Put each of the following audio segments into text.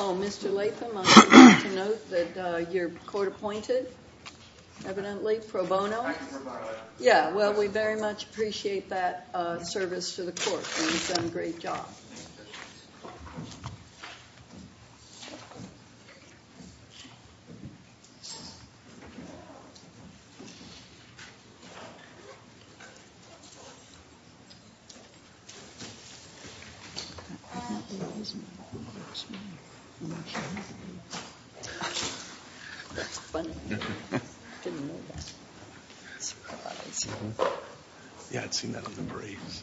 Oh, Mr. Latham, I'd like to note that you're court-appointed, evidently, pro bono. Yeah, well, we very much appreciate that service to the court. You've done a great job. Yeah, I'd seen that on the briefs.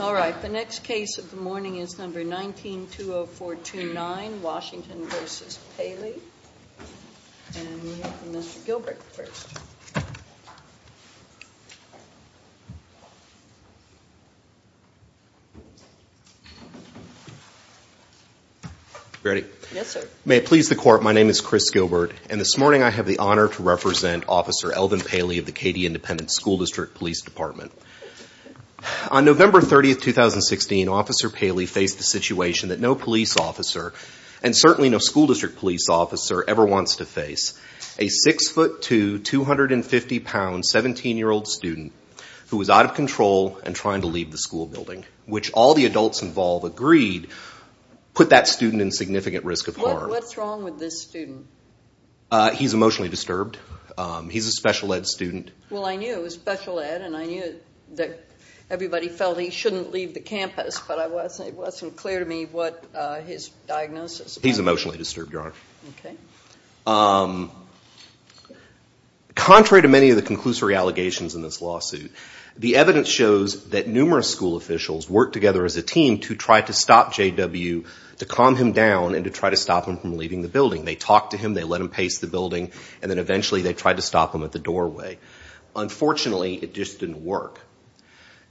All right, the next case of the morning is number 19-20429, Washington v. Paley. And we have Mr. Gilbert first. Ready? Yes, sir. May it please the court, my name is Chris Gilbert, and this morning I have the honor to represent Officer Elvin Paley of the Katy Independent School District Police Department. On November 30, 2016, Officer Paley faced the situation that no police officer, and certainly no school district police officer, ever wants to face. A 6'2", 250-pound, 17-year-old student who was out of control and trying to leave the school building, which all the adults involved agreed put that student in significant risk of harm. What's wrong with this student? He's emotionally disturbed. He's a special ed student. Well, I knew it was special ed, and I knew that everybody felt he shouldn't leave the campus, but it wasn't clear to me what his diagnosis was. He's emotionally disturbed, Your Honor. Okay. Contrary to many of the conclusory allegations in this lawsuit, the evidence shows that numerous school officials worked together as a team to try to stop J.W., to calm him down, and to try to stop him from leaving the building. They talked to him, they let him pace the building, and then eventually they tried to stop him at the doorway. Unfortunately, it just didn't work.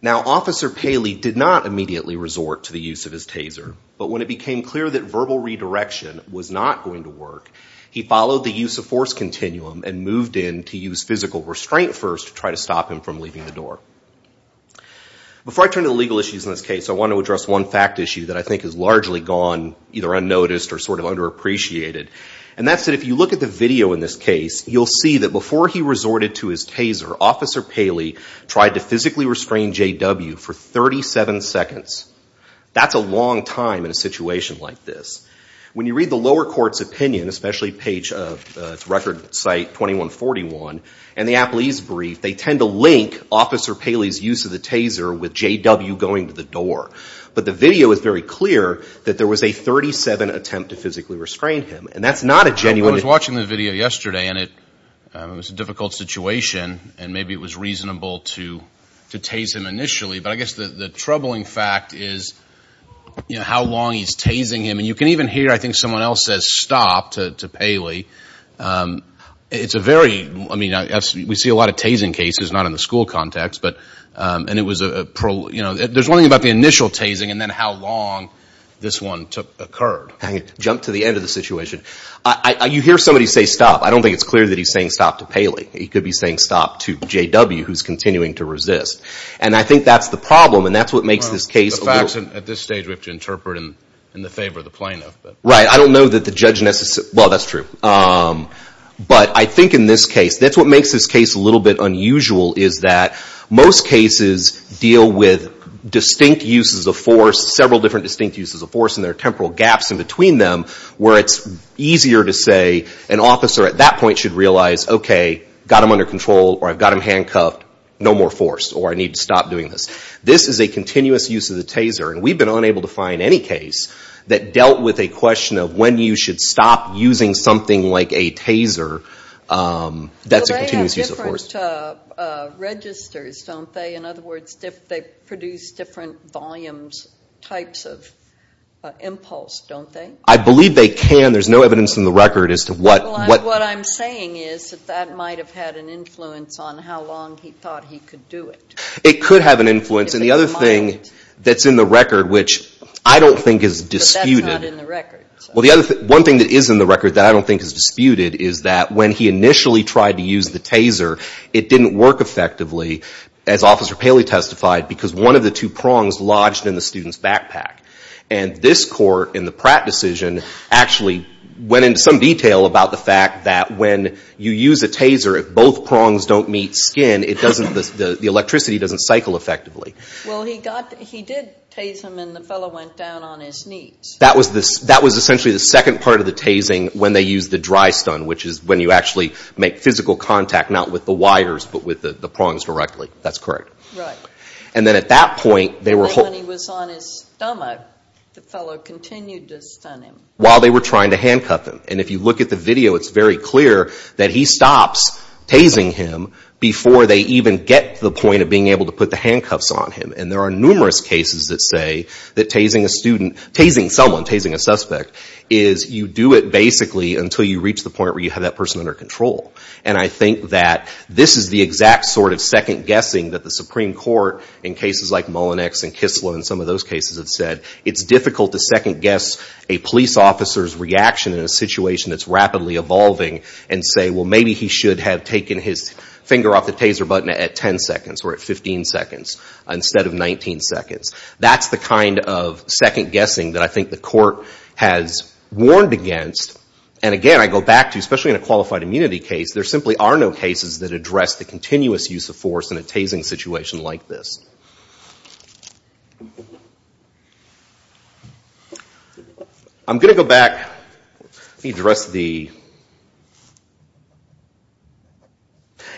Now, Officer Paley did not immediately resort to the use of his taser, but when it became clear that verbal redirection was not going to work, he followed the use of force continuum and moved in to use physical restraint first to try to stop him from leaving the door. Before I turn to the legal issues in this case, I want to address one fact issue that I think has largely gone either unnoticed or sort of underappreciated, and that's that if you look at the video in this case, you'll see that before he resorted to his taser, Officer Paley tried to physically restrain J.W. for 37 seconds. That's a long time in a situation like this. When you read the lower court's opinion, especially page, it's record site 2141, and the appellee's brief, they tend to link Officer Paley's use of the taser with J.W. going to the door. But the video is very clear that there was a 37 attempt to physically restrain him, and that's not a genuine... I was watching the video yesterday, and it was a difficult situation, and maybe it was reasonable to tase him initially, but I guess the troubling fact is how long he's tasing him, and you can even hear, I think, someone else says stop to Paley. It's a very... I mean, we see a lot of tasing cases, not in the school context, but there's one thing about the initial tasing and then how long this one occurred. I'm going to jump to the end of the situation. You hear somebody say stop. I don't think it's clear that he's saying stop to Paley. He could be saying stop to J.W., who's continuing to resist. And I think that's the problem, and that's what makes this case a little... The facts at this stage we have to interpret in the favor of the plaintiff. Right. I don't know that the judge... Well, that's true. But I think in this case, that's what makes this case a little bit unusual, is that most cases deal with distinct uses of force, several different distinct uses of force, and there are temporal gaps in between them where it's easier to say an officer at that point should realize, okay, got him under control, or I've got him handcuffed, no more force, or I need to stop doing this. This is a continuous use of the taser, and we've been unable to find any case that dealt with a question of when you should stop using something like a taser that's a continuous use of force. But they have different registers, don't they? In other words, they produce different volumes, types of impulse, don't they? I believe they can. There's no evidence in the record as to what... Well, what I'm saying is that that might have had an influence on how long he thought he could do it. It could have an influence, and the other thing that's in the record, which I don't think is disputed... But that's not in the record. Well, one thing that is in the record that I don't think is disputed is that when he initially tried to use the taser, it didn't work effectively, as Officer Paley testified, because one of the two prongs lodged in the student's backpack. And this court, in the Pratt decision, actually went into some detail about the fact that when you use a taser, if both prongs don't meet skin, the electricity doesn't cycle effectively. Well, he did tase him, and the fellow went down on his knees. That was essentially the second part of the tasing, when they used the dry stun, which is when you actually make physical contact, not with the wires, but with the prongs directly. That's correct. Right. And then when he was on his stomach, the fellow continued to stun him. While they were trying to handcuff him. And if you look at the video, it's very clear that he stops tasing him before they even get to the point of being able to put the handcuffs on him. And there are numerous cases that say that tasing someone, tasing a suspect, is you do it basically until you reach the point where you have that person under control. And I think that this is the exact sort of second-guessing that the Supreme Court, in cases like Mullinex and Kislow, and some of those cases have said. It's difficult to second-guess a police officer's reaction in a situation that's rapidly evolving, and say, well, maybe he should have taken his finger off the taser button at 10 seconds, or at 15 seconds, instead of 19 seconds. That's the kind of second-guessing that I think the court has warned against. And again, I go back to, especially in a qualified immunity case, there simply are no cases that address the continuous use of force in a tasing situation like this.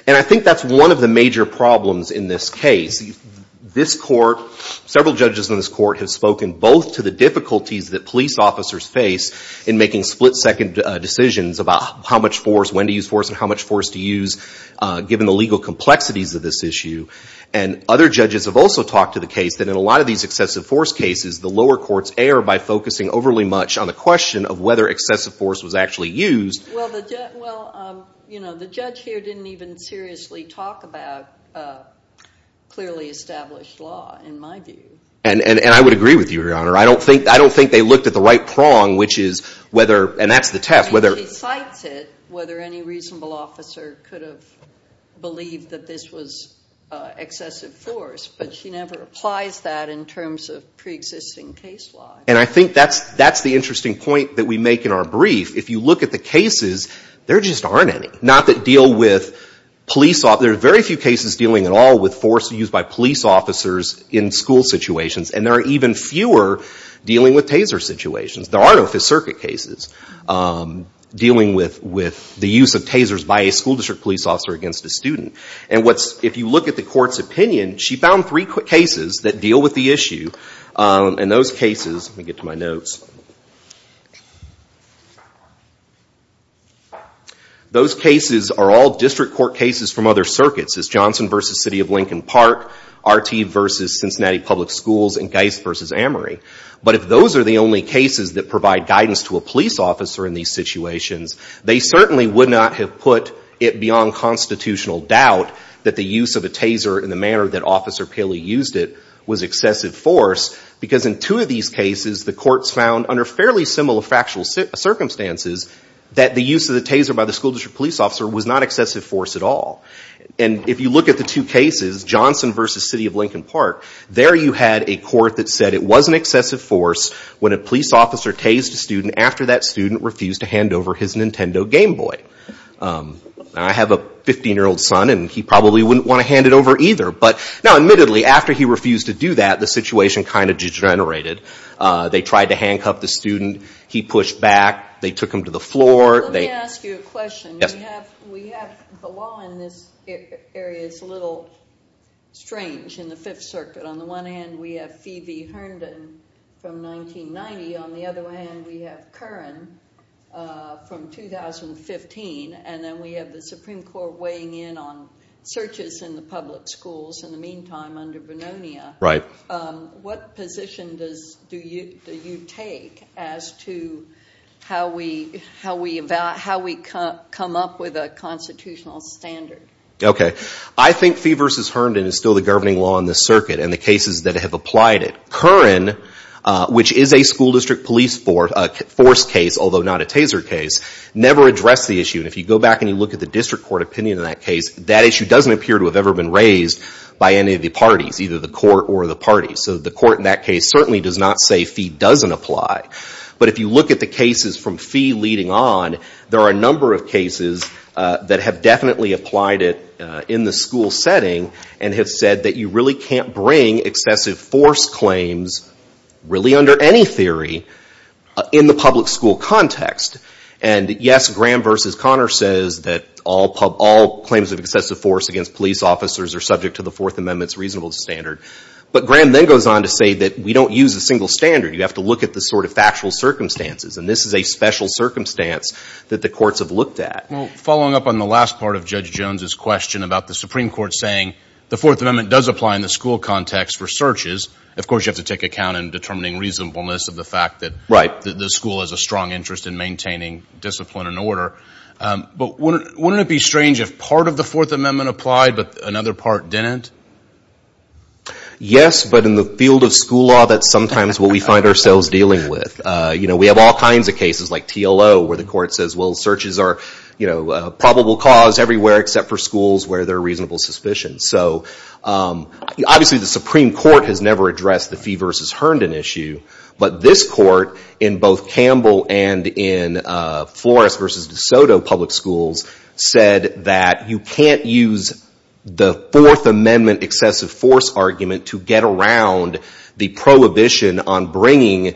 And I think that's one of the major problems in this case. This court, several judges in this court, have spoken both to the difficulties that police officers face in making split-second decisions about how much force, when to use force, and how much force to use, given the legal complexities of this issue. And other judges have also talked to the case that in a lot of these excessive force cases, the lower courts err by focusing overly much on the question of whether excessive force was actually used. Well, the judge here didn't even seriously talk about clearly established law, in my view. And I would agree with you, Your Honor. I don't think they looked at the right prong, which is whether, and that's the test, whether... And she cites it, whether any reasonable officer could have believed that this was excessive force. But she never applies that in terms of pre-existing case law. And I think that's the interesting point that we make in our brief. If you look at the cases, there just aren't any. There are very few cases dealing at all with force used by police officers in school situations. And there are even fewer dealing with taser situations. There are no Fifth Circuit cases dealing with the use of tasers by a school district police officer against a student. And if you look at the court's opinion, she found three cases that deal with the issue. And those cases, let me get to my notes. Those cases are all district court cases from other circuits. It's Johnson v. City of Lincoln Park, Arteev v. Cincinnati Public Schools, and Geist v. Amery. But if those are the only cases that provide guidance to a police officer in these situations, they certainly would not have put it beyond constitutional doubt that the use of a taser in the manner that Officer Paley used it was excessive force. Because in two of these cases, the courts found, under fairly similar factual circumstances, that the use of the taser by the school district police officer was not excessive force at all. And if you look at the two cases, Johnson v. City of Lincoln Park, there you had a court that said it was an excessive force when a police officer tased a student after that student refused to hand over his Nintendo Game Boy. I have a 15-year-old son, and he probably wouldn't want to hand it over either. But now, admittedly, after he refused to do that, the situation kind of degenerated. They tried to handcuff the student. He pushed back. They took him to the floor. Let me ask you a question. We have the law in this area that's a little strange in the Fifth Circuit. On the one hand, we have Phoebe Herndon from 1990. On the other hand, we have Curran from 2015. And then we have the Supreme Court weighing in on searches in the public schools in the meantime under Bononia. Right. What position do you take as to how we come up with a constitutional standard? Okay. I think Phoebe v. Herndon is still the governing law in this circuit and the cases that have applied it. Curran, which is a school district police force case, although not a taser case, never addressed the issue. And if you go back and you look at the district court opinion on that case, that issue doesn't appear to have ever been raised by any of the parties, either the court or the parties. So the court in that case certainly does not say Phoebe doesn't apply. But if you look at the cases from Phoebe leading on, there are a number of cases that have definitely applied it in the school setting and have said that you really can't bring excessive force claims really under any theory in the public school context. And, yes, Graham v. Conner says that all claims of excessive force against police officers are subject to the Fourth Amendment's reasonable standard. But Graham then goes on to say that we don't use a single standard. You have to look at the sort of factual circumstances. And this is a special circumstance that the courts have looked at. Well, following up on the last part of Judge Jones's question about the Supreme Court saying the Fourth Amendment does apply in the school context for searches, of course you have to take account in determining reasonableness of the fact that the school has a strong interest in maintaining discipline and order. But wouldn't it be strange if part of the Fourth Amendment applied but another part didn't? Yes, but in the field of school law, that's sometimes what we find ourselves dealing with. We have all kinds of cases like TLO where the court says, well, searches are a probable cause everywhere except for schools where there are reasonable suspicions. So obviously the Supreme Court has never addressed the Fee v. Herndon issue, but this court in both Campbell and in Flores v. DeSoto public schools said that you can't use the Fourth Amendment excessive force argument to get around the prohibition on bringing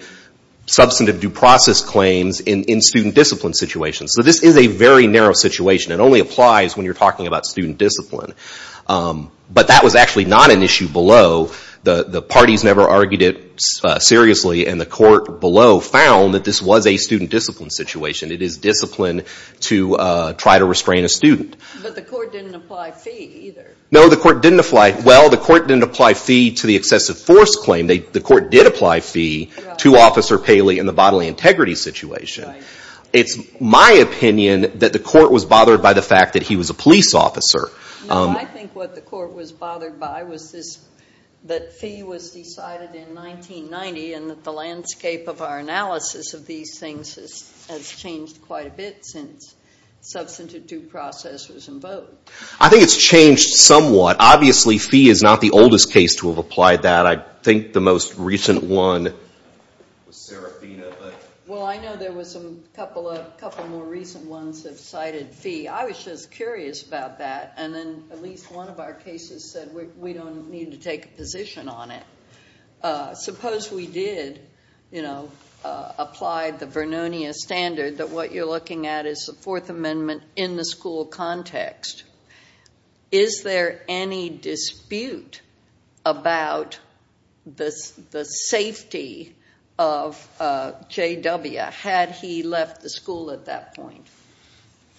substantive due process claims in student discipline situations. So this is a very narrow situation. It only applies when you're talking about student discipline. But that was actually not an issue below. The parties never argued it seriously, and the court below found that this was a student discipline situation. It is discipline to try to restrain a student. But the court didn't apply fee either. No, the court didn't apply. Well, the court didn't apply fee to the excessive force claim. The court did apply fee to Officer Paley in the bodily integrity situation. It's my opinion that the court was bothered by the fact that he was a police officer. No, I think what the court was bothered by was that fee was decided in 1990 and that the landscape of our analysis of these things has changed quite a bit since substantive due process was invoked. I think it's changed somewhat. Obviously, fee is not the oldest case to have applied that. I think the most recent one was Serafina. Well, I know there was a couple more recent ones that cited fee. I was just curious about that, and then at least one of our cases said we don't need to take a position on it. Suppose we did apply the Vernonia standard that what you're looking at is the Fourth Amendment in the school context. Is there any dispute about the safety of J.W. had he left the school at that point?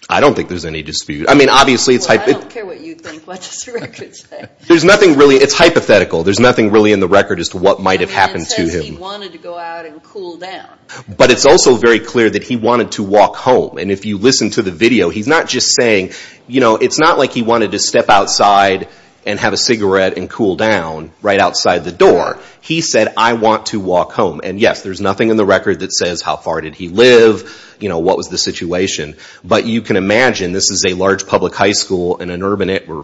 I don't think there's any dispute. Well, I don't care what you think. What does the record say? It's hypothetical. There's nothing really in the record as to what might have happened to him. It says he wanted to go out and cool down. But it's also very clear that he wanted to walk home. And if you listen to the video, he's not just saying it's not like he wanted to step outside and have a cigarette and cool down right outside the door. He said, I want to walk home. And yes, there's nothing in the record that says how far did he live, what was the situation. But you can imagine this is a large public high school in a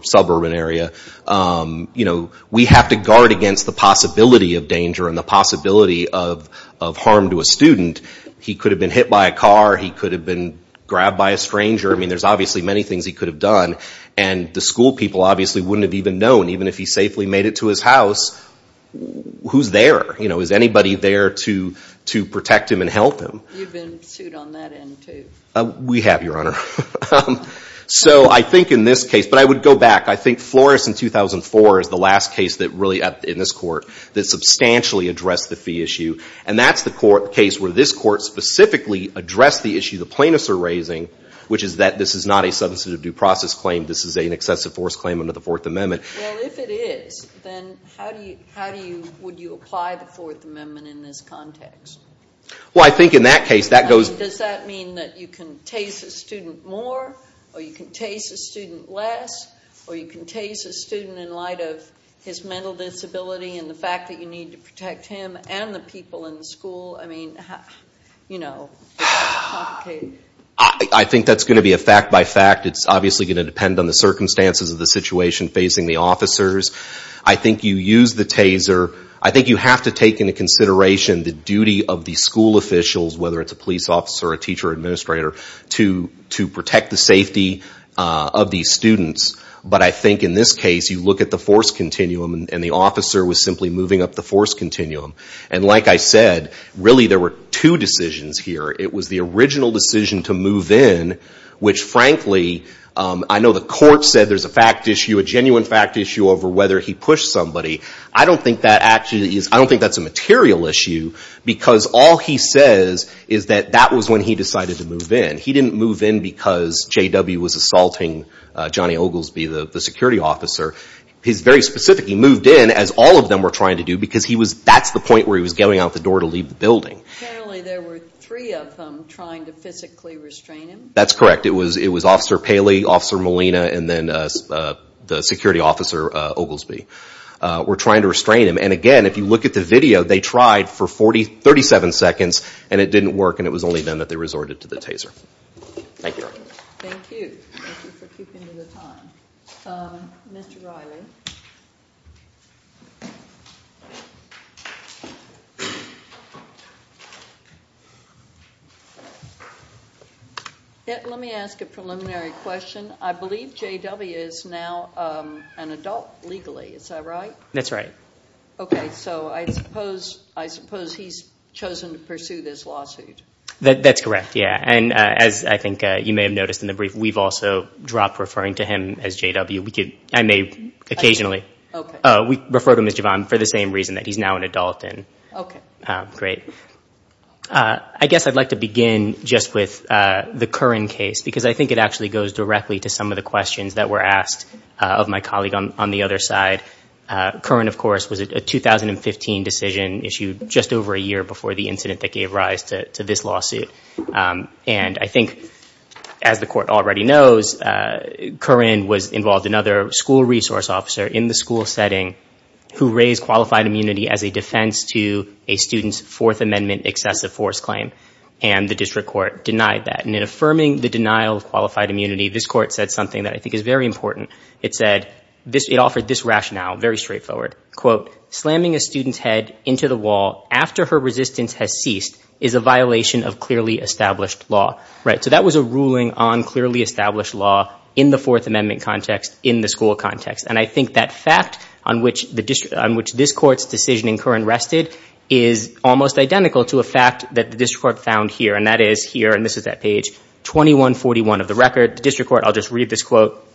suburban area. We have to guard against the possibility of danger and the possibility of harm to a student. He could have been hit by a car. He could have been grabbed by a stranger. I mean, there's obviously many things he could have done. And the school people obviously wouldn't have even known, even if he safely made it to his house, who's there. Is anybody there to protect him and help him? You've been sued on that end, too. We have, Your Honor. So I think in this case, but I would go back. I think Flores in 2004 is the last case that really, in this court, that substantially addressed the fee issue. And that's the case where this court specifically addressed the issue the plaintiffs are raising, which is that this is not a substantive due process claim. This is an excessive force claim under the Fourth Amendment. Well, if it is, then how do you, would you apply the Fourth Amendment in this context? Well, I think in that case, that goes. Does that mean that you can tase a student more or you can tase a student less or you can tase a student in light of his mental disability and the fact that you need to protect him and the people in the school? I mean, you know, it's complicated. I think that's going to be a fact by fact. It's obviously going to depend on the circumstances of the situation facing the officers. I think you use the taser. I think you have to take into consideration the duty of the school officials, whether it's a police officer, a teacher, administrator, to protect the safety of these students. But I think in this case, you look at the force continuum and the officer was simply moving up the force continuum. And like I said, really there were two decisions here. It was the original decision to move in, which frankly, I know the court said there's a fact issue, a genuine fact issue over whether he pushed somebody. I don't think that's a material issue because all he says is that that was when he decided to move in. He didn't move in because J.W. was assaulting Johnny Oglesby, the security officer. He's very specific. He moved in as all of them were trying to do because that's the point where he was getting out the door to leave the building. Apparently there were three of them trying to physically restrain him. That's correct. It was Officer Paley, Officer Molina, and then the security officer Oglesby were trying to restrain him. And again, if you look at the video, they tried for 37 seconds and it didn't work and it was only then that they resorted to the taser. Thank you. Thank you. Thank you for keeping to the time. Mr. Riley. Let me ask a preliminary question. I believe J.W. is now an adult legally. Is that right? That's right. Okay. So I suppose he's chosen to pursue this lawsuit. That's correct, yeah. And as I think you may have noticed in the brief, we've also dropped referring to him as J.W. I may occasionally refer to him as Jevon for the same reason, that he's now an adult. Okay. Great. I guess I'd like to begin just with the Curran case because I think it actually goes directly to some of the questions that were asked of my colleague on the other side. Curran, of course, was a 2015 decision issued just over a year before the incident that gave rise to this lawsuit. And I think, as the court already knows, Curran was involved in other school resource officer in the school setting who raised qualified immunity as a defense to a student's Fourth Amendment excessive force claim, and the district court denied that. And in affirming the denial of qualified immunity, this court said something that I think is very important. It said, it offered this rationale, very straightforward. Quote, slamming a student's head into the wall after her resistance has ceased is a violation of clearly established law. So that was a ruling on clearly established law in the Fourth Amendment context, in the school context. And I think that fact on which this court's decision in Curran rested is almost identical to a fact that the district court found here, and that is here, and this is that page, 2141 of the record. The district court, I'll just read this quote,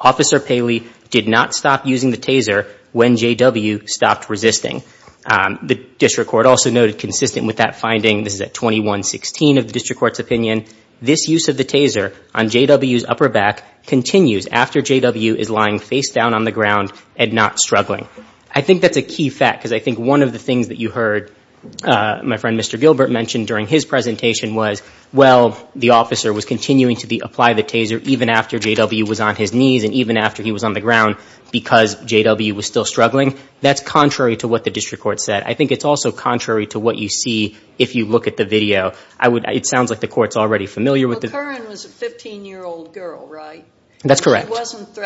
Officer Paley did not stop using the taser when J.W. stopped resisting. The district court also noted consistent with that finding, this is at 2116 of the district court's opinion, this use of the taser on J.W.'s upper back continues after J.W. is lying face down on the ground and not struggling. I think that's a key fact because I think one of the things that you heard my friend Mr. Gilbert mention during his presentation was, well, the officer was continuing to apply the taser even after J.W. was on his knees and even after he was on the ground because J.W. was still struggling. That's contrary to what the district court said. I think it's also contrary to what you see if you look at the video. It sounds like the court's already familiar with it. Well, Curran was a 15-year-old girl, right? That's correct. And she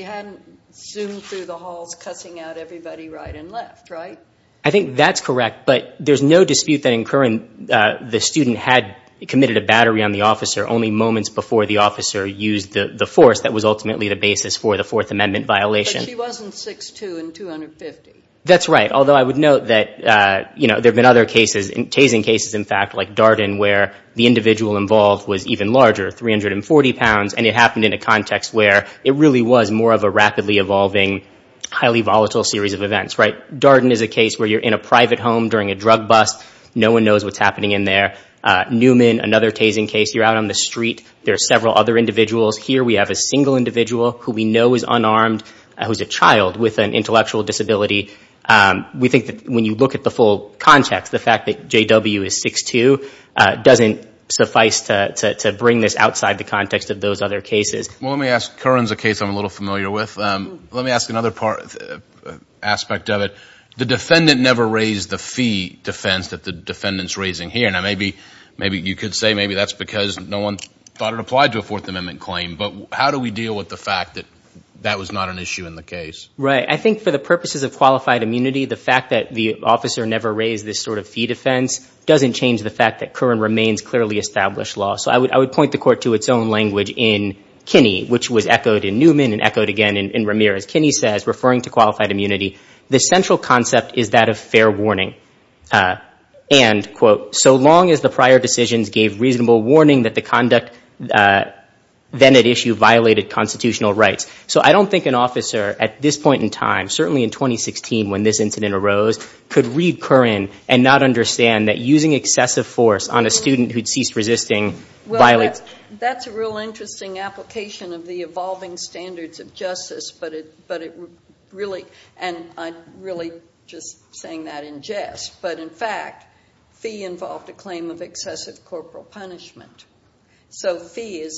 hadn't zoomed through the halls cussing out everybody right and left, right? I think that's correct, but there's no dispute that in Curran, the student had committed a battery on the officer only moments before the officer used the force. That was ultimately the basis for the Fourth Amendment violation. But she wasn't 6'2 and 250. That's right, although I would note that, you know, there have been other cases, tasing cases, in fact, like Darden where the individual involved was even larger, 340 pounds, and it happened in a context where it really was more of a rapidly evolving, highly volatile series of events, right? Darden is a case where you're in a private home during a drug bust. No one knows what's happening in there. Newman, another tasing case, you're out on the street. There are several other individuals. Here we have a single individual who we know is unarmed who's a child with an intellectual disability. We think that when you look at the full context, the fact that J.W. is 6'2 doesn't suffice to bring this outside the context of those other cases. Well, let me ask Curran's a case I'm a little familiar with. Let me ask another aspect of it. The defendant never raised the fee defense that the defendant's raising here. Now, maybe you could say maybe that's because no one thought it applied to a Fourth Amendment claim, but how do we deal with the fact that that was not an issue in the case? Right. I think for the purposes of qualified immunity, the fact that the officer never raised this sort of fee defense doesn't change the fact that Curran remains clearly established law. So I would point the Court to its own language in Kinney, which was echoed in Newman and echoed again in Ramirez. Kinney says, referring to qualified immunity, the central concept is that of fair warning and, quote, so long as the prior decisions gave reasonable warning that the conduct then at issue violated constitutional rights. So I don't think an officer at this point in time, certainly in 2016 when this incident arose, could read Curran and not understand that using excessive force on a student who had ceased resisting violated— Well, that's a real interesting application of the evolving standards of justice, but it really—and I'm really just saying that in jest. But, in fact, fee involved a claim of excessive corporal punishment. So fee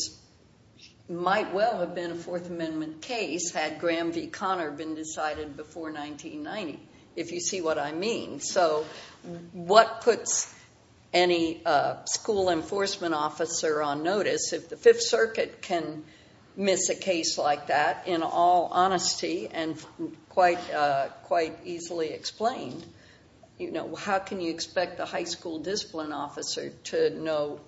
might well have been a Fourth Amendment case had Graham v. Conner been decided before 1990, if you see what I mean. So what puts any school enforcement officer on notice? If the Fifth Circuit can miss a case like that, in all honesty and quite easily explained, how can you expect the high school discipline officer to know?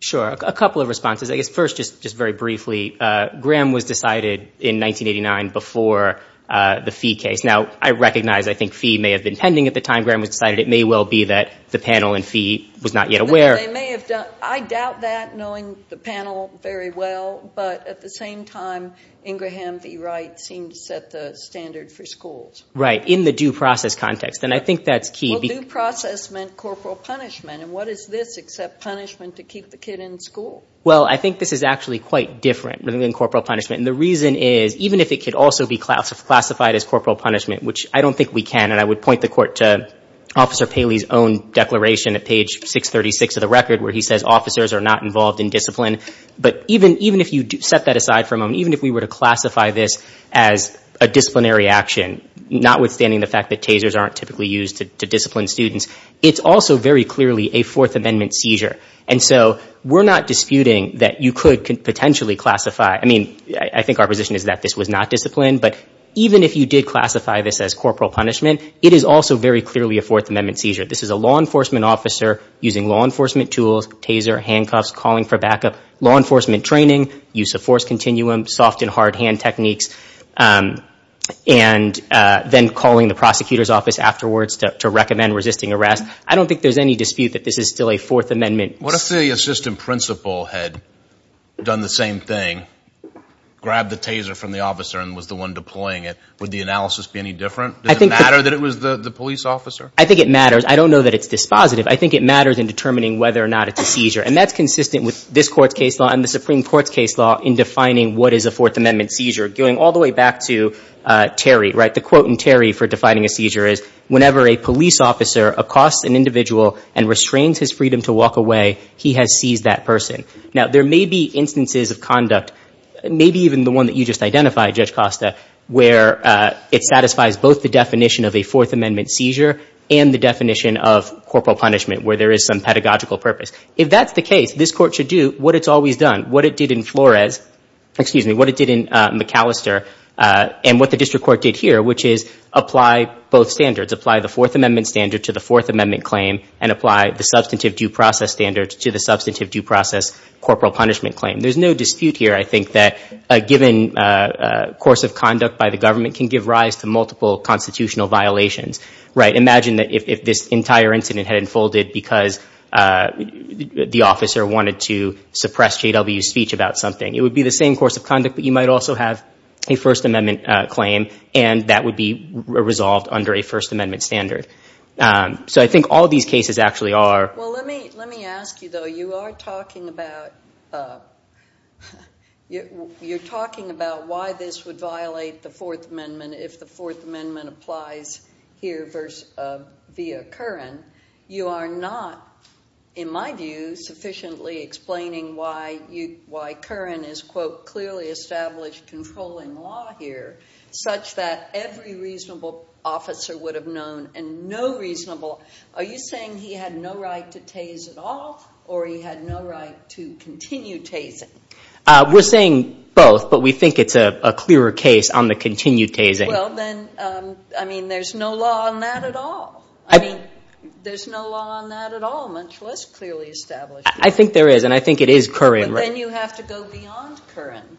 Sure. A couple of responses. I guess first, just very briefly, Graham was decided in 1989 before the fee case. Now, I recognize I think fee may have been pending at the time Graham was decided. It may well be that the panel in fee was not yet aware. They may have done—I doubt that, knowing the panel very well. But at the same time, Ingraham v. Wright seemed to set the standard for schools. Right. In the due process context. And I think that's key. Well, due process meant corporal punishment. And what is this except punishment to keep the kid in school? Well, I think this is actually quite different than corporal punishment. And the reason is, even if it could also be classified as corporal punishment, which I don't think we can, and I would point the Court to Officer Paley's own declaration at page 636 of the record, where he says officers are not involved in discipline. But even if you set that aside for a moment, even if we were to classify this as a disciplinary action, notwithstanding the fact that tasers aren't typically used to discipline students, it's also very clearly a Fourth Amendment seizure. And so we're not disputing that you could potentially classify— I mean, I think our position is that this was not discipline, but even if you did classify this as corporal punishment, it is also very clearly a Fourth Amendment seizure. This is a law enforcement officer using law enforcement tools, taser, handcuffs, calling for backup, law enforcement training, use of force continuum, soft and hard hand techniques, and then calling the prosecutor's office afterwards to recommend resisting arrest. I don't think there's any dispute that this is still a Fourth Amendment— What if the assistant principal had done the same thing, grabbed the taser from the officer and was the one deploying it? Would the analysis be any different? Does it matter that it was the police officer? I think it matters. I don't know that it's dispositive. I think it matters in determining whether or not it's a seizure. And that's consistent with this Court's case law and the Supreme Court's case law in defining what is a Fourth Amendment seizure, going all the way back to Terry, right? The quote in Terry for defining a seizure is, whenever a police officer accosts an individual and restrains his freedom to walk away, he has seized that person. Now, there may be instances of conduct, maybe even the one that you just identified, Judge Costa, where it satisfies both the definition of a Fourth Amendment seizure and the definition of corporal punishment, where there is some pedagogical purpose. If that's the case, this Court should do what it's always done, what it did in Flores— excuse me, what it did in McAllister, and what the district court did here, which is apply both standards, apply the Fourth Amendment standard to the Fourth Amendment claim and apply the substantive due process standard to the substantive due process corporal punishment claim. There's no dispute here, I think, that a given course of conduct by the government can give rise to multiple constitutional violations, right? Imagine if this entire incident had unfolded because the officer wanted to suppress J.W.'s speech about something. It would be the same course of conduct, but you might also have a First Amendment claim, and that would be resolved under a First Amendment standard. So I think all these cases actually are— Well, let me ask you, though, you are talking about why this would violate the Fourth Amendment if the Fourth Amendment applies here via Curran. You are not, in my view, sufficiently explaining why Curran is, quote, or he had no right to continue tasing? We're saying both, but we think it's a clearer case on the continued tasing. Well, then, I mean, there's no law on that at all. I mean, there's no law on that at all, much less clearly established. I think there is, and I think it is Curran, right? But then you have to go beyond Curran.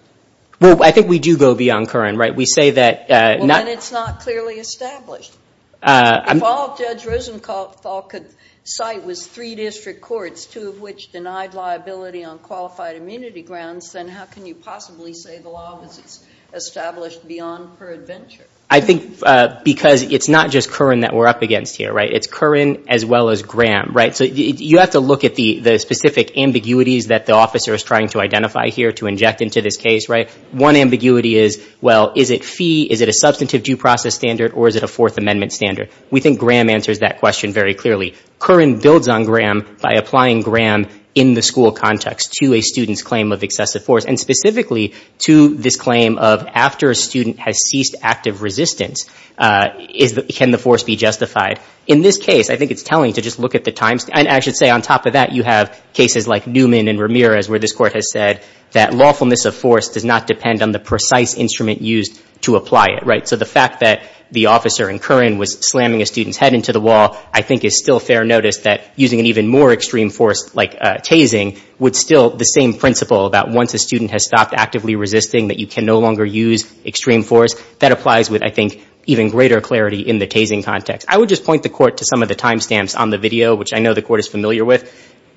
Well, I think we do go beyond Curran, right? We say that— Well, then it's not clearly established. If all Judge Rosenthal could cite was three district courts, two of which denied liability on qualified immunity grounds, then how can you possibly say the law was established beyond per adventure? I think because it's not just Curran that we're up against here, right? It's Curran as well as Graham, right? So you have to look at the specific ambiguities that the officer is trying to identify here to inject into this case, right? One ambiguity is, well, is it fee, is it a substantive due process standard, or is it a Fourth Amendment standard? We think Graham answers that question very clearly. Curran builds on Graham by applying Graham in the school context to a student's claim of excessive force, and specifically to this claim of after a student has ceased active resistance, can the force be justified? In this case, I think it's telling to just look at the time— and I should say on top of that, you have cases like Newman and Ramirez, where this court has said that lawfulness of force does not depend on the precise instrument used to apply it, right? So the fact that the officer in Curran was slamming a student's head into the wall, I think is still fair notice that using an even more extreme force like tasing would still— the same principle about once a student has stopped actively resisting that you can no longer use extreme force, that applies with, I think, even greater clarity in the tasing context. I would just point the court to some of the timestamps on the video, which I know the court is familiar with.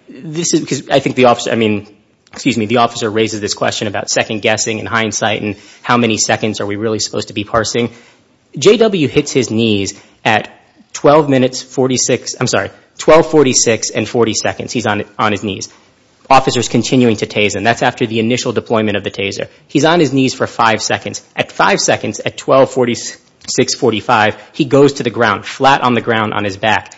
I think the officer—I mean, excuse me, the officer raises this question about second guessing and hindsight and how many seconds are we really supposed to be parsing. JW hits his knees at 12 minutes 46—I'm sorry, 12.46 and 40 seconds he's on his knees. Officer's continuing to tase, and that's after the initial deployment of the taser. He's on his knees for five seconds. At five seconds, at 12.46, 45, he goes to the ground, flat on the ground on his back.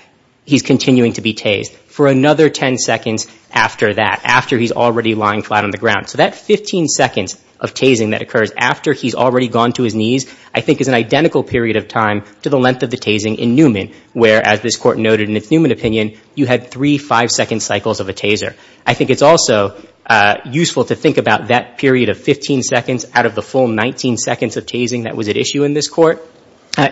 He's continuing to be tased for another 10 seconds after that, after he's already lying flat on the ground. So that 15 seconds of tasing that occurs after he's already gone to his knees, I think is an identical period of time to the length of the tasing in Newman, where, as this court noted in its Newman opinion, you had three five-second cycles of a taser. I think it's also useful to think about that period of 15 seconds out of the full 19 seconds of tasing that was at issue in this court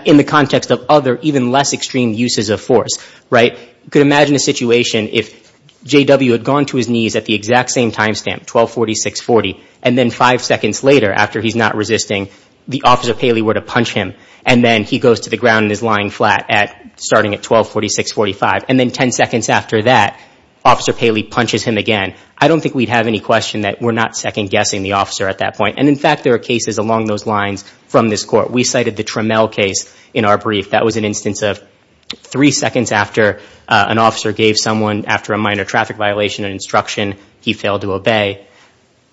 in the context of other, even less extreme uses of force. You could imagine a situation if JW had gone to his knees at the exact same time stamp, 12.46, 40, and then five seconds later, after he's not resisting, the officer Paley were to punch him, and then he goes to the ground and is lying flat starting at 12.46, 45, and then 10 seconds after that, Officer Paley punches him again. I don't think we'd have any question that we're not second-guessing the officer at that point. In fact, there are cases along those lines from this court. We cited the Trammell case in our brief. That was an instance of three seconds after an officer gave someone, after a minor traffic violation and instruction, he failed to obey.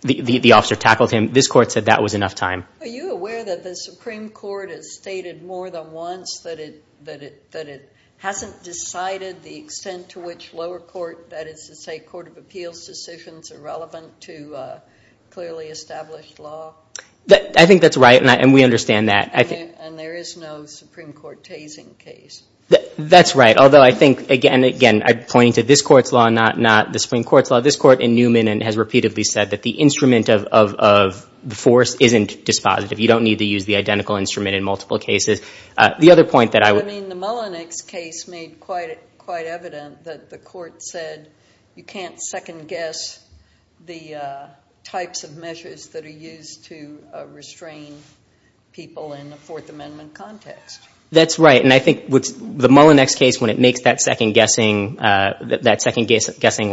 The officer tackled him. This court said that was enough time. Are you aware that the Supreme Court has stated more than once that it hasn't decided the extent to which lower court, that is to say court of appeals decisions are relevant to clearly established law? I think that's right, and we understand that. And there is no Supreme Court tasing case? That's right, although I think, again, again, I'm pointing to this court's law, not the Supreme Court's law. This court in Newman has repeatedly said that the instrument of force isn't dispositive. You don't need to use the identical instrument in multiple cases. I mean, the Mullinex case made quite evident that the court said you can't second-guess the types of measures that are used to restrain people in the Fourth Amendment context. That's right, and I think the Mullinex case, when it makes that second-guessing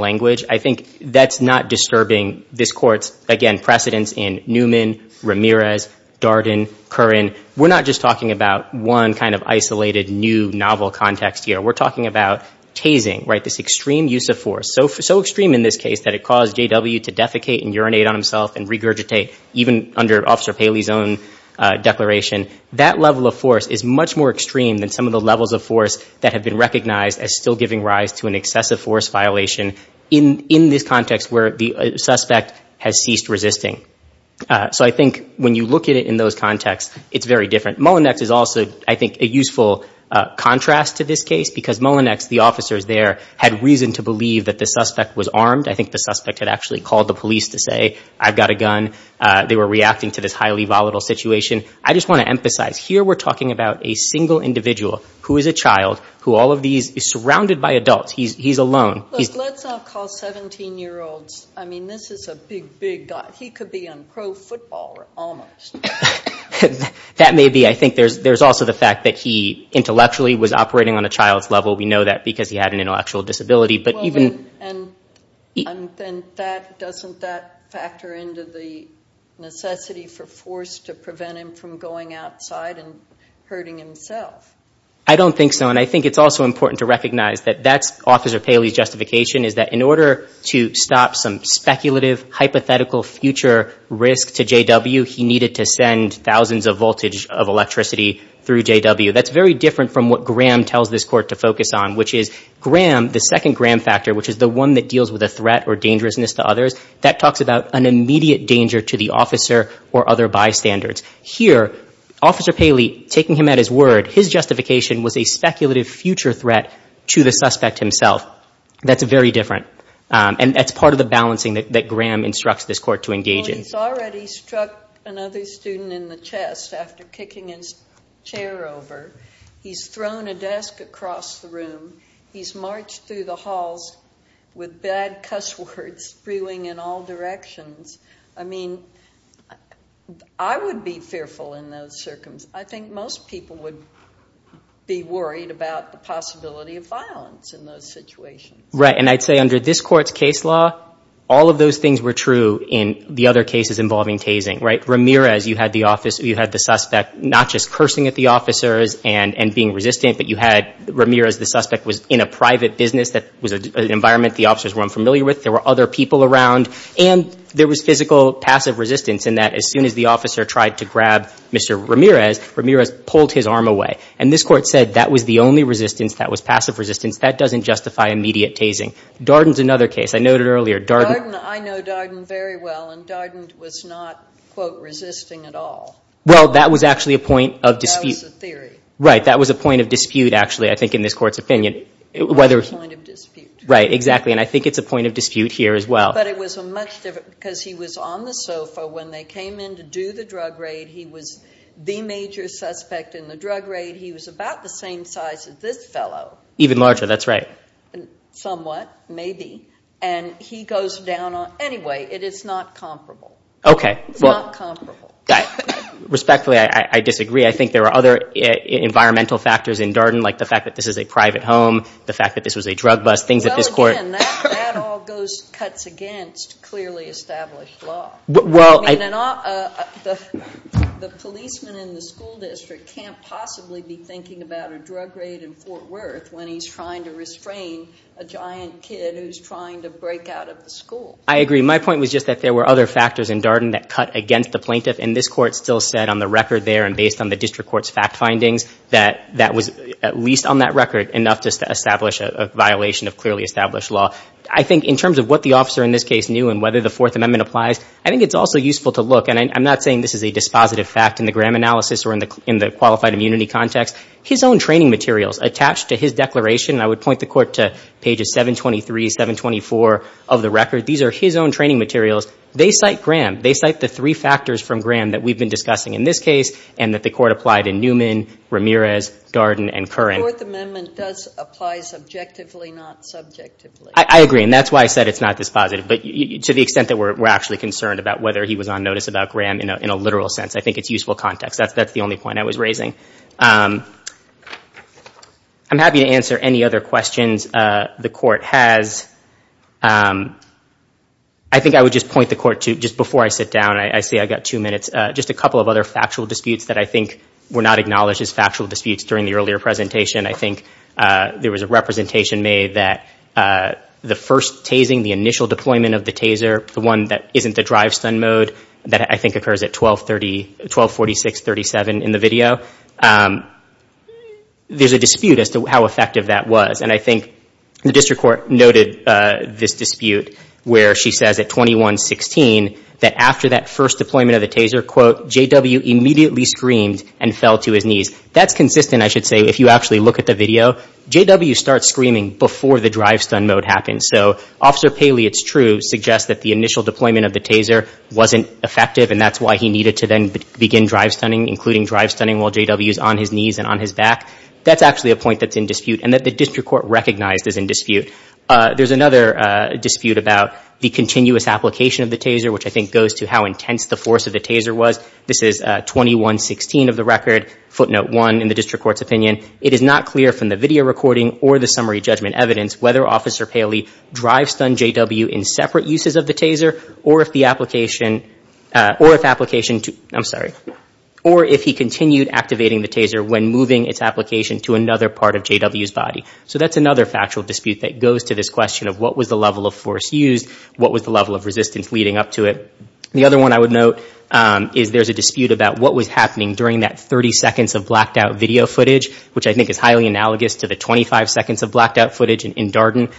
language, I think that's not disturbing this court's, again, precedents in Newman, Ramirez, Darden, Curran. We're not just talking about one kind of isolated new novel context here. We're talking about tasing, right, this extreme use of force, so extreme in this case that it caused J.W. to defecate and urinate on himself and regurgitate, even under Officer Paley's own declaration. That level of force is much more extreme than some of the levels of force that have been recognized as still giving rise to an excessive force violation in this context where the suspect has ceased resisting. So I think when you look at it in those contexts, it's very different. Mullinex is also, I think, a useful contrast to this case because Mullinex, the officers there, had reason to believe that the suspect was armed. I think the suspect had actually called the police to say, I've got a gun. They were reacting to this highly volatile situation. I just want to emphasize, here we're talking about a single individual who is a child, who all of these is surrounded by adults. He's alone. Let's not call 17-year-olds. I mean, this is a big, big guy. He could be on pro football almost. That may be. I think there's also the fact that he intellectually was operating on a child's level. We know that because he had an intellectual disability. And doesn't that factor into the necessity for force to prevent him from going outside and hurting himself? I don't think so. And I think it's also important to recognize that that's Officer Paley's justification, is that in order to stop some speculative, hypothetical future risk to JW, he needed to send thousands of voltage of electricity through JW. That's very different from what Graham tells this court to focus on, which is Graham, the second Graham factor, which is the one that deals with a threat or dangerousness to others, that talks about an immediate danger to the officer or other bystanders. Here, Officer Paley, taking him at his word, his justification was a speculative future threat to the suspect himself. That's very different. And that's part of the balancing that Graham instructs this court to engage in. He's already struck another student in the chest after kicking his chair over. He's thrown a desk across the room. He's marched through the halls with bad cuss words spewing in all directions. I mean, I would be fearful in those circumstances. I think most people would be worried about the possibility of violence in those situations. Right, and I'd say under this court's case law, all of those things were true in the other cases involving tasing, right? Ramirez, you had the suspect not just cursing at the officers and being resistant, but you had Ramirez, the suspect, was in a private business. That was an environment the officers weren't familiar with. There were other people around, and there was physical passive resistance in that as soon as the officer tried to grab Mr. Ramirez, Ramirez pulled his arm away. And this court said that was the only resistance that was passive resistance. That doesn't justify immediate tasing. Darden's another case I noted earlier. Darden, I know Darden very well, and Darden was not, quote, resisting at all. Well, that was actually a point of dispute. That was a theory. Right, that was a point of dispute, actually, I think, in this court's opinion. That was a point of dispute. Right, exactly, and I think it's a point of dispute here as well. But it was a much different, because he was on the sofa when they came in to do the drug raid. He was the major suspect in the drug raid. He was about the same size as this fellow. Even larger, that's right. Somewhat, maybe, and he goes down on, anyway, it is not comparable. Okay. It's not comparable. Respectfully, I disagree. I think there are other environmental factors in Darden, like the fact that this is a private home, the fact that this was a drug bust, things that this court. Again, that all cuts against clearly established law. I mean, the policeman in the school district can't possibly be thinking about a drug raid in Fort Worth when he's trying to restrain a giant kid who's trying to break out of the school. I agree. My point was just that there were other factors in Darden that cut against the plaintiff, and this court still said on the record there and based on the district court's fact findings that that was at least on that record enough to establish a violation of clearly established law. I think in terms of what the officer in this case knew and whether the Fourth Amendment applies, I think it's also useful to look, and I'm not saying this is a dispositive fact in the Graham analysis or in the qualified immunity context, his own training materials attached to his declaration, and I would point the court to pages 723, 724 of the record. These are his own training materials. They cite Graham. They cite the three factors from Graham that we've been discussing in this case and that the court applied in Newman, Ramirez, Darden, and Curran. The Fourth Amendment does apply subjectively, not subjectively. I agree, and that's why I said it's not dispositive, but to the extent that we're actually concerned about whether he was on notice about Graham in a literal sense, I think it's useful context. That's the only point I was raising. I'm happy to answer any other questions the court has. I think I would just point the court to, just before I sit down, I see I've got two minutes, just a couple of other factual disputes that I think were not acknowledged as factual disputes during the earlier presentation. I think there was a representation made that the first tasing, the initial deployment of the taser, the one that isn't the drive stun mode that I think occurs at 1246.37 in the video, there's a dispute as to how effective that was, and I think the district court noted this dispute where she says at 21.16 that after that first deployment of the taser, quote, J.W. immediately screamed and fell to his knees. That's consistent, I should say, if you actually look at the video. J.W. starts screaming before the drive stun mode happens. So Officer Paley, it's true, suggests that the initial deployment of the taser wasn't effective and that's why he needed to then begin drive stunning, including drive stunning while J.W. is on his knees and on his back. That's actually a point that's in dispute and that the district court recognized is in dispute. There's another dispute about the continuous application of the taser, which I think goes to how intense the force of the taser was. This is 21.16 of the record, footnote one in the district court's opinion. It is not clear from the video recording or the summary judgment evidence whether Officer Paley drive stunned J.W. in separate uses of the taser or if the application, or if application to, I'm sorry, or if he continued activating the taser when moving its application to another part of J.W.'s body. So that's another factual dispute that goes to this question of what was the level of force used, what was the level of resistance leading up to it. The other one I would note is there's a dispute about what was happening during that 30 seconds of blacked out video footage, which I think is highly analogous to the 25 seconds of blacked out footage in Darden.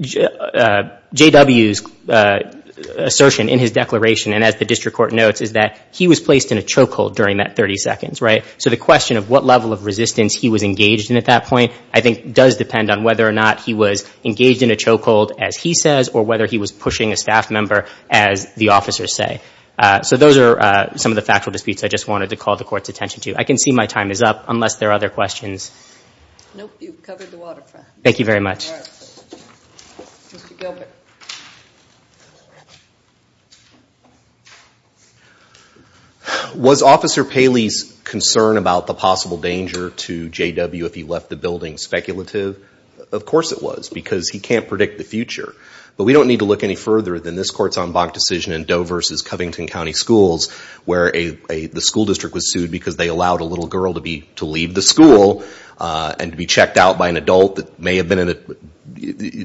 J.W.'s assertion in his declaration, and as the district court notes, is that he was placed in a choke hold during that 30 seconds. So the question of what level of resistance he was engaged in at that point, I think, does depend on whether or not he was engaged in a choke hold, as he says, or whether he was pushing a staff member, as the officers say. So those are some of the factual disputes I just wanted to call the court's attention to. I can see my time is up, unless there are other questions. Nope, you've covered the waterfront. Thank you very much. Mr. Gilbert. Okay. Was Officer Paley's concern about the possible danger to J.W. if he left the building speculative? Of course it was, because he can't predict the future. But we don't need to look any further than this court's en banc decision in Doe v. Covington County Schools, where the school district was sued because they allowed a little girl to leave the school and be checked out by an adult that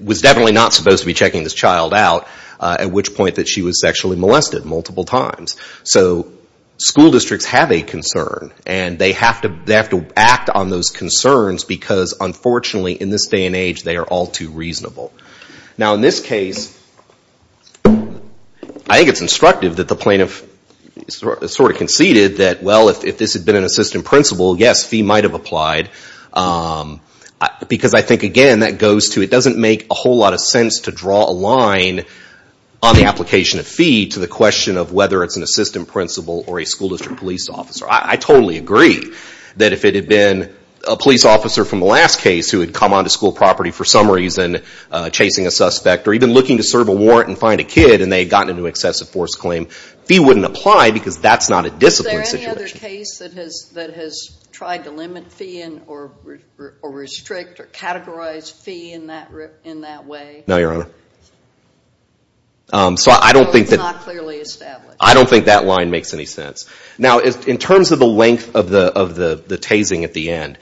was definitely not supposed to be checking this child out, at which point she was sexually molested multiple times. So school districts have a concern, and they have to act on those concerns, because unfortunately in this day and age they are all too reasonable. Now in this case, I think it's instructive that the plaintiff sort of conceded that, well, if this had been an assistant principal, yes, fee might have applied. Because I think, again, that goes to it doesn't make a whole lot of sense to draw a line on the application of fee to the question of whether it's an assistant principal or a school district police officer. I totally agree that if it had been a police officer from the last case who had come onto school property for some reason chasing a suspect or even looking to serve a warrant and find a kid and they had gotten into excessive force claim, fee wouldn't apply because that's not a discipline situation. Is there any other case that has tried to limit fee or restrict or categorize fee in that way? No, Your Honor. So it's not clearly established. Now in terms of the length of the tasing at the end,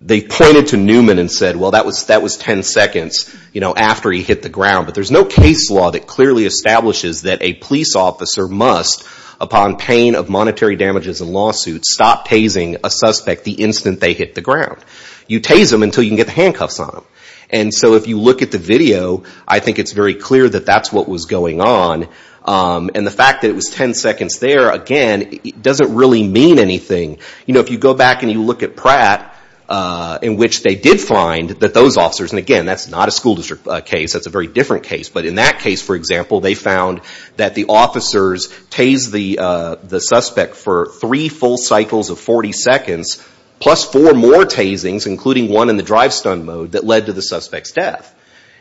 they pointed to Newman and said, well, that was ten seconds after he hit the ground. But there's no case law that clearly establishes that a police officer must, upon pain of monetary damages and lawsuits, stop tasing a suspect the instant they hit the ground. You tase them until you can get the handcuffs on them. And so if you look at the video, I think it's very clear that that's what was going on. And the fact that it was ten seconds there, again, doesn't really mean anything. If you go back and you look at Pratt, in which they did find that those officers, and again, that's not a school district case, that's a very different case, but in that case, for example, they found that the officers tased the suspect for three full cycles of 40 seconds plus four more tasings, including one in the drive-stun mode, that led to the suspect's death.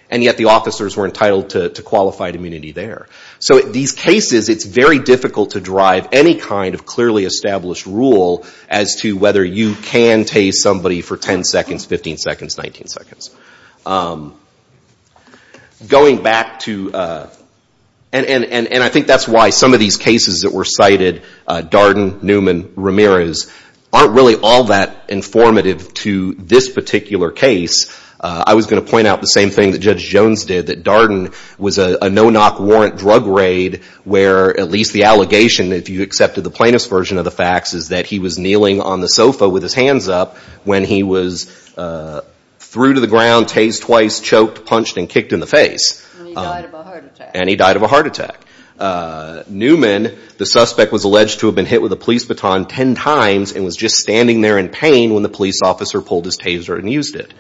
And yet the officers were entitled to qualified immunity there. So in these cases, it's very difficult to drive any kind of clearly established rule as to whether you can tase somebody for ten seconds, 15 seconds, 19 seconds. Going back to... And I think that's why some of these cases that were cited, Darden, Newman, Ramirez, aren't really all that informative to this particular case. I was going to point out the same thing that Judge Jones did, that Darden was a no-knock warrant drug raid, where at least the allegation, if you accepted the plaintiff's version of the facts, is that he was kneeling on the sofa with his hands up when he was threw to the ground, tased twice, choked, punched, and kicked in the face. Newman, the suspect was alleged to have been hit with a police baton ten times and was just standing there in pain when the police officer pulled his taser and used it.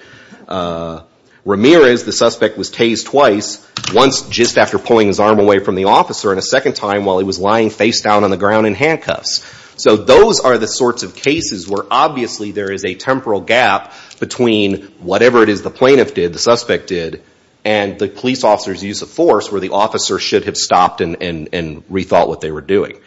Ramirez, the suspect was tased twice, once just after pulling his arm away from the officer and a second time while he was lying face down on the ground in handcuffs. So those are the sorts of cases where obviously there is a temporal gap between whatever it is the plaintiff did, the suspect did, and the police officer's use of force where the officer should have stopped and rethought what they were doing.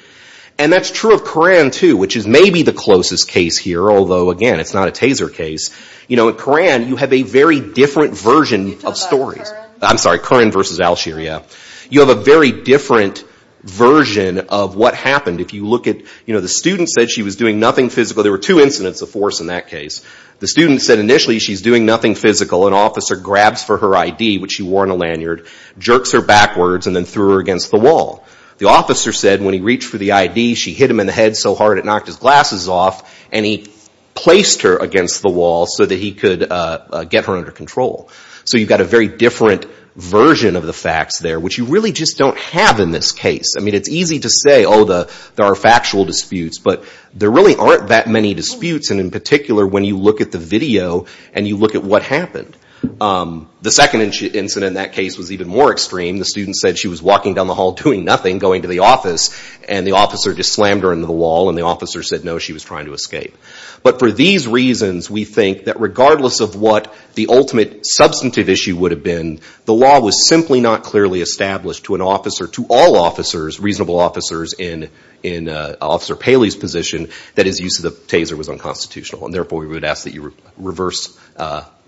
And that's true of Curran, too, which is maybe the closest case here, although, again, it's not a taser case. You know, in Curran, you have a very different version of stories. You have a very different version of what happened. If you look at, you know, the student said she was doing nothing physical. There were two incidents of force in that case. The student said initially she's doing nothing physical. An officer grabs for her I.D., which she wore in a lanyard, jerks her backwards and then threw her against the wall. The officer said when he reached for the I.D., she hit him in the head so hard it knocked his glasses off and he placed her against the wall so that he could get her under control. So you've got a very different version of the facts there, which you really just don't have in this case. I mean, it's easy to say, oh, there are factual disputes. But there really aren't that many disputes, and in particular, when you look at the video and you look at what happened. The second incident in that case was even more extreme. The student said she was walking down the hall doing nothing, going to the office, and the officer just slammed her into the wall and the officer said no, she was trying to escape. But for these reasons, we think that regardless of what the ultimate substantive issue would have been, the law was simply not clearly established to an officer, to all officers, reasonable officers, in Officer Paley's position that his use of the taser was unconstitutional. And therefore, we would ask that you reverse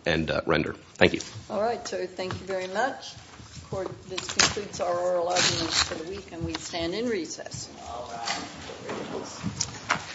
and render. Thank you. All right. So thank you very much.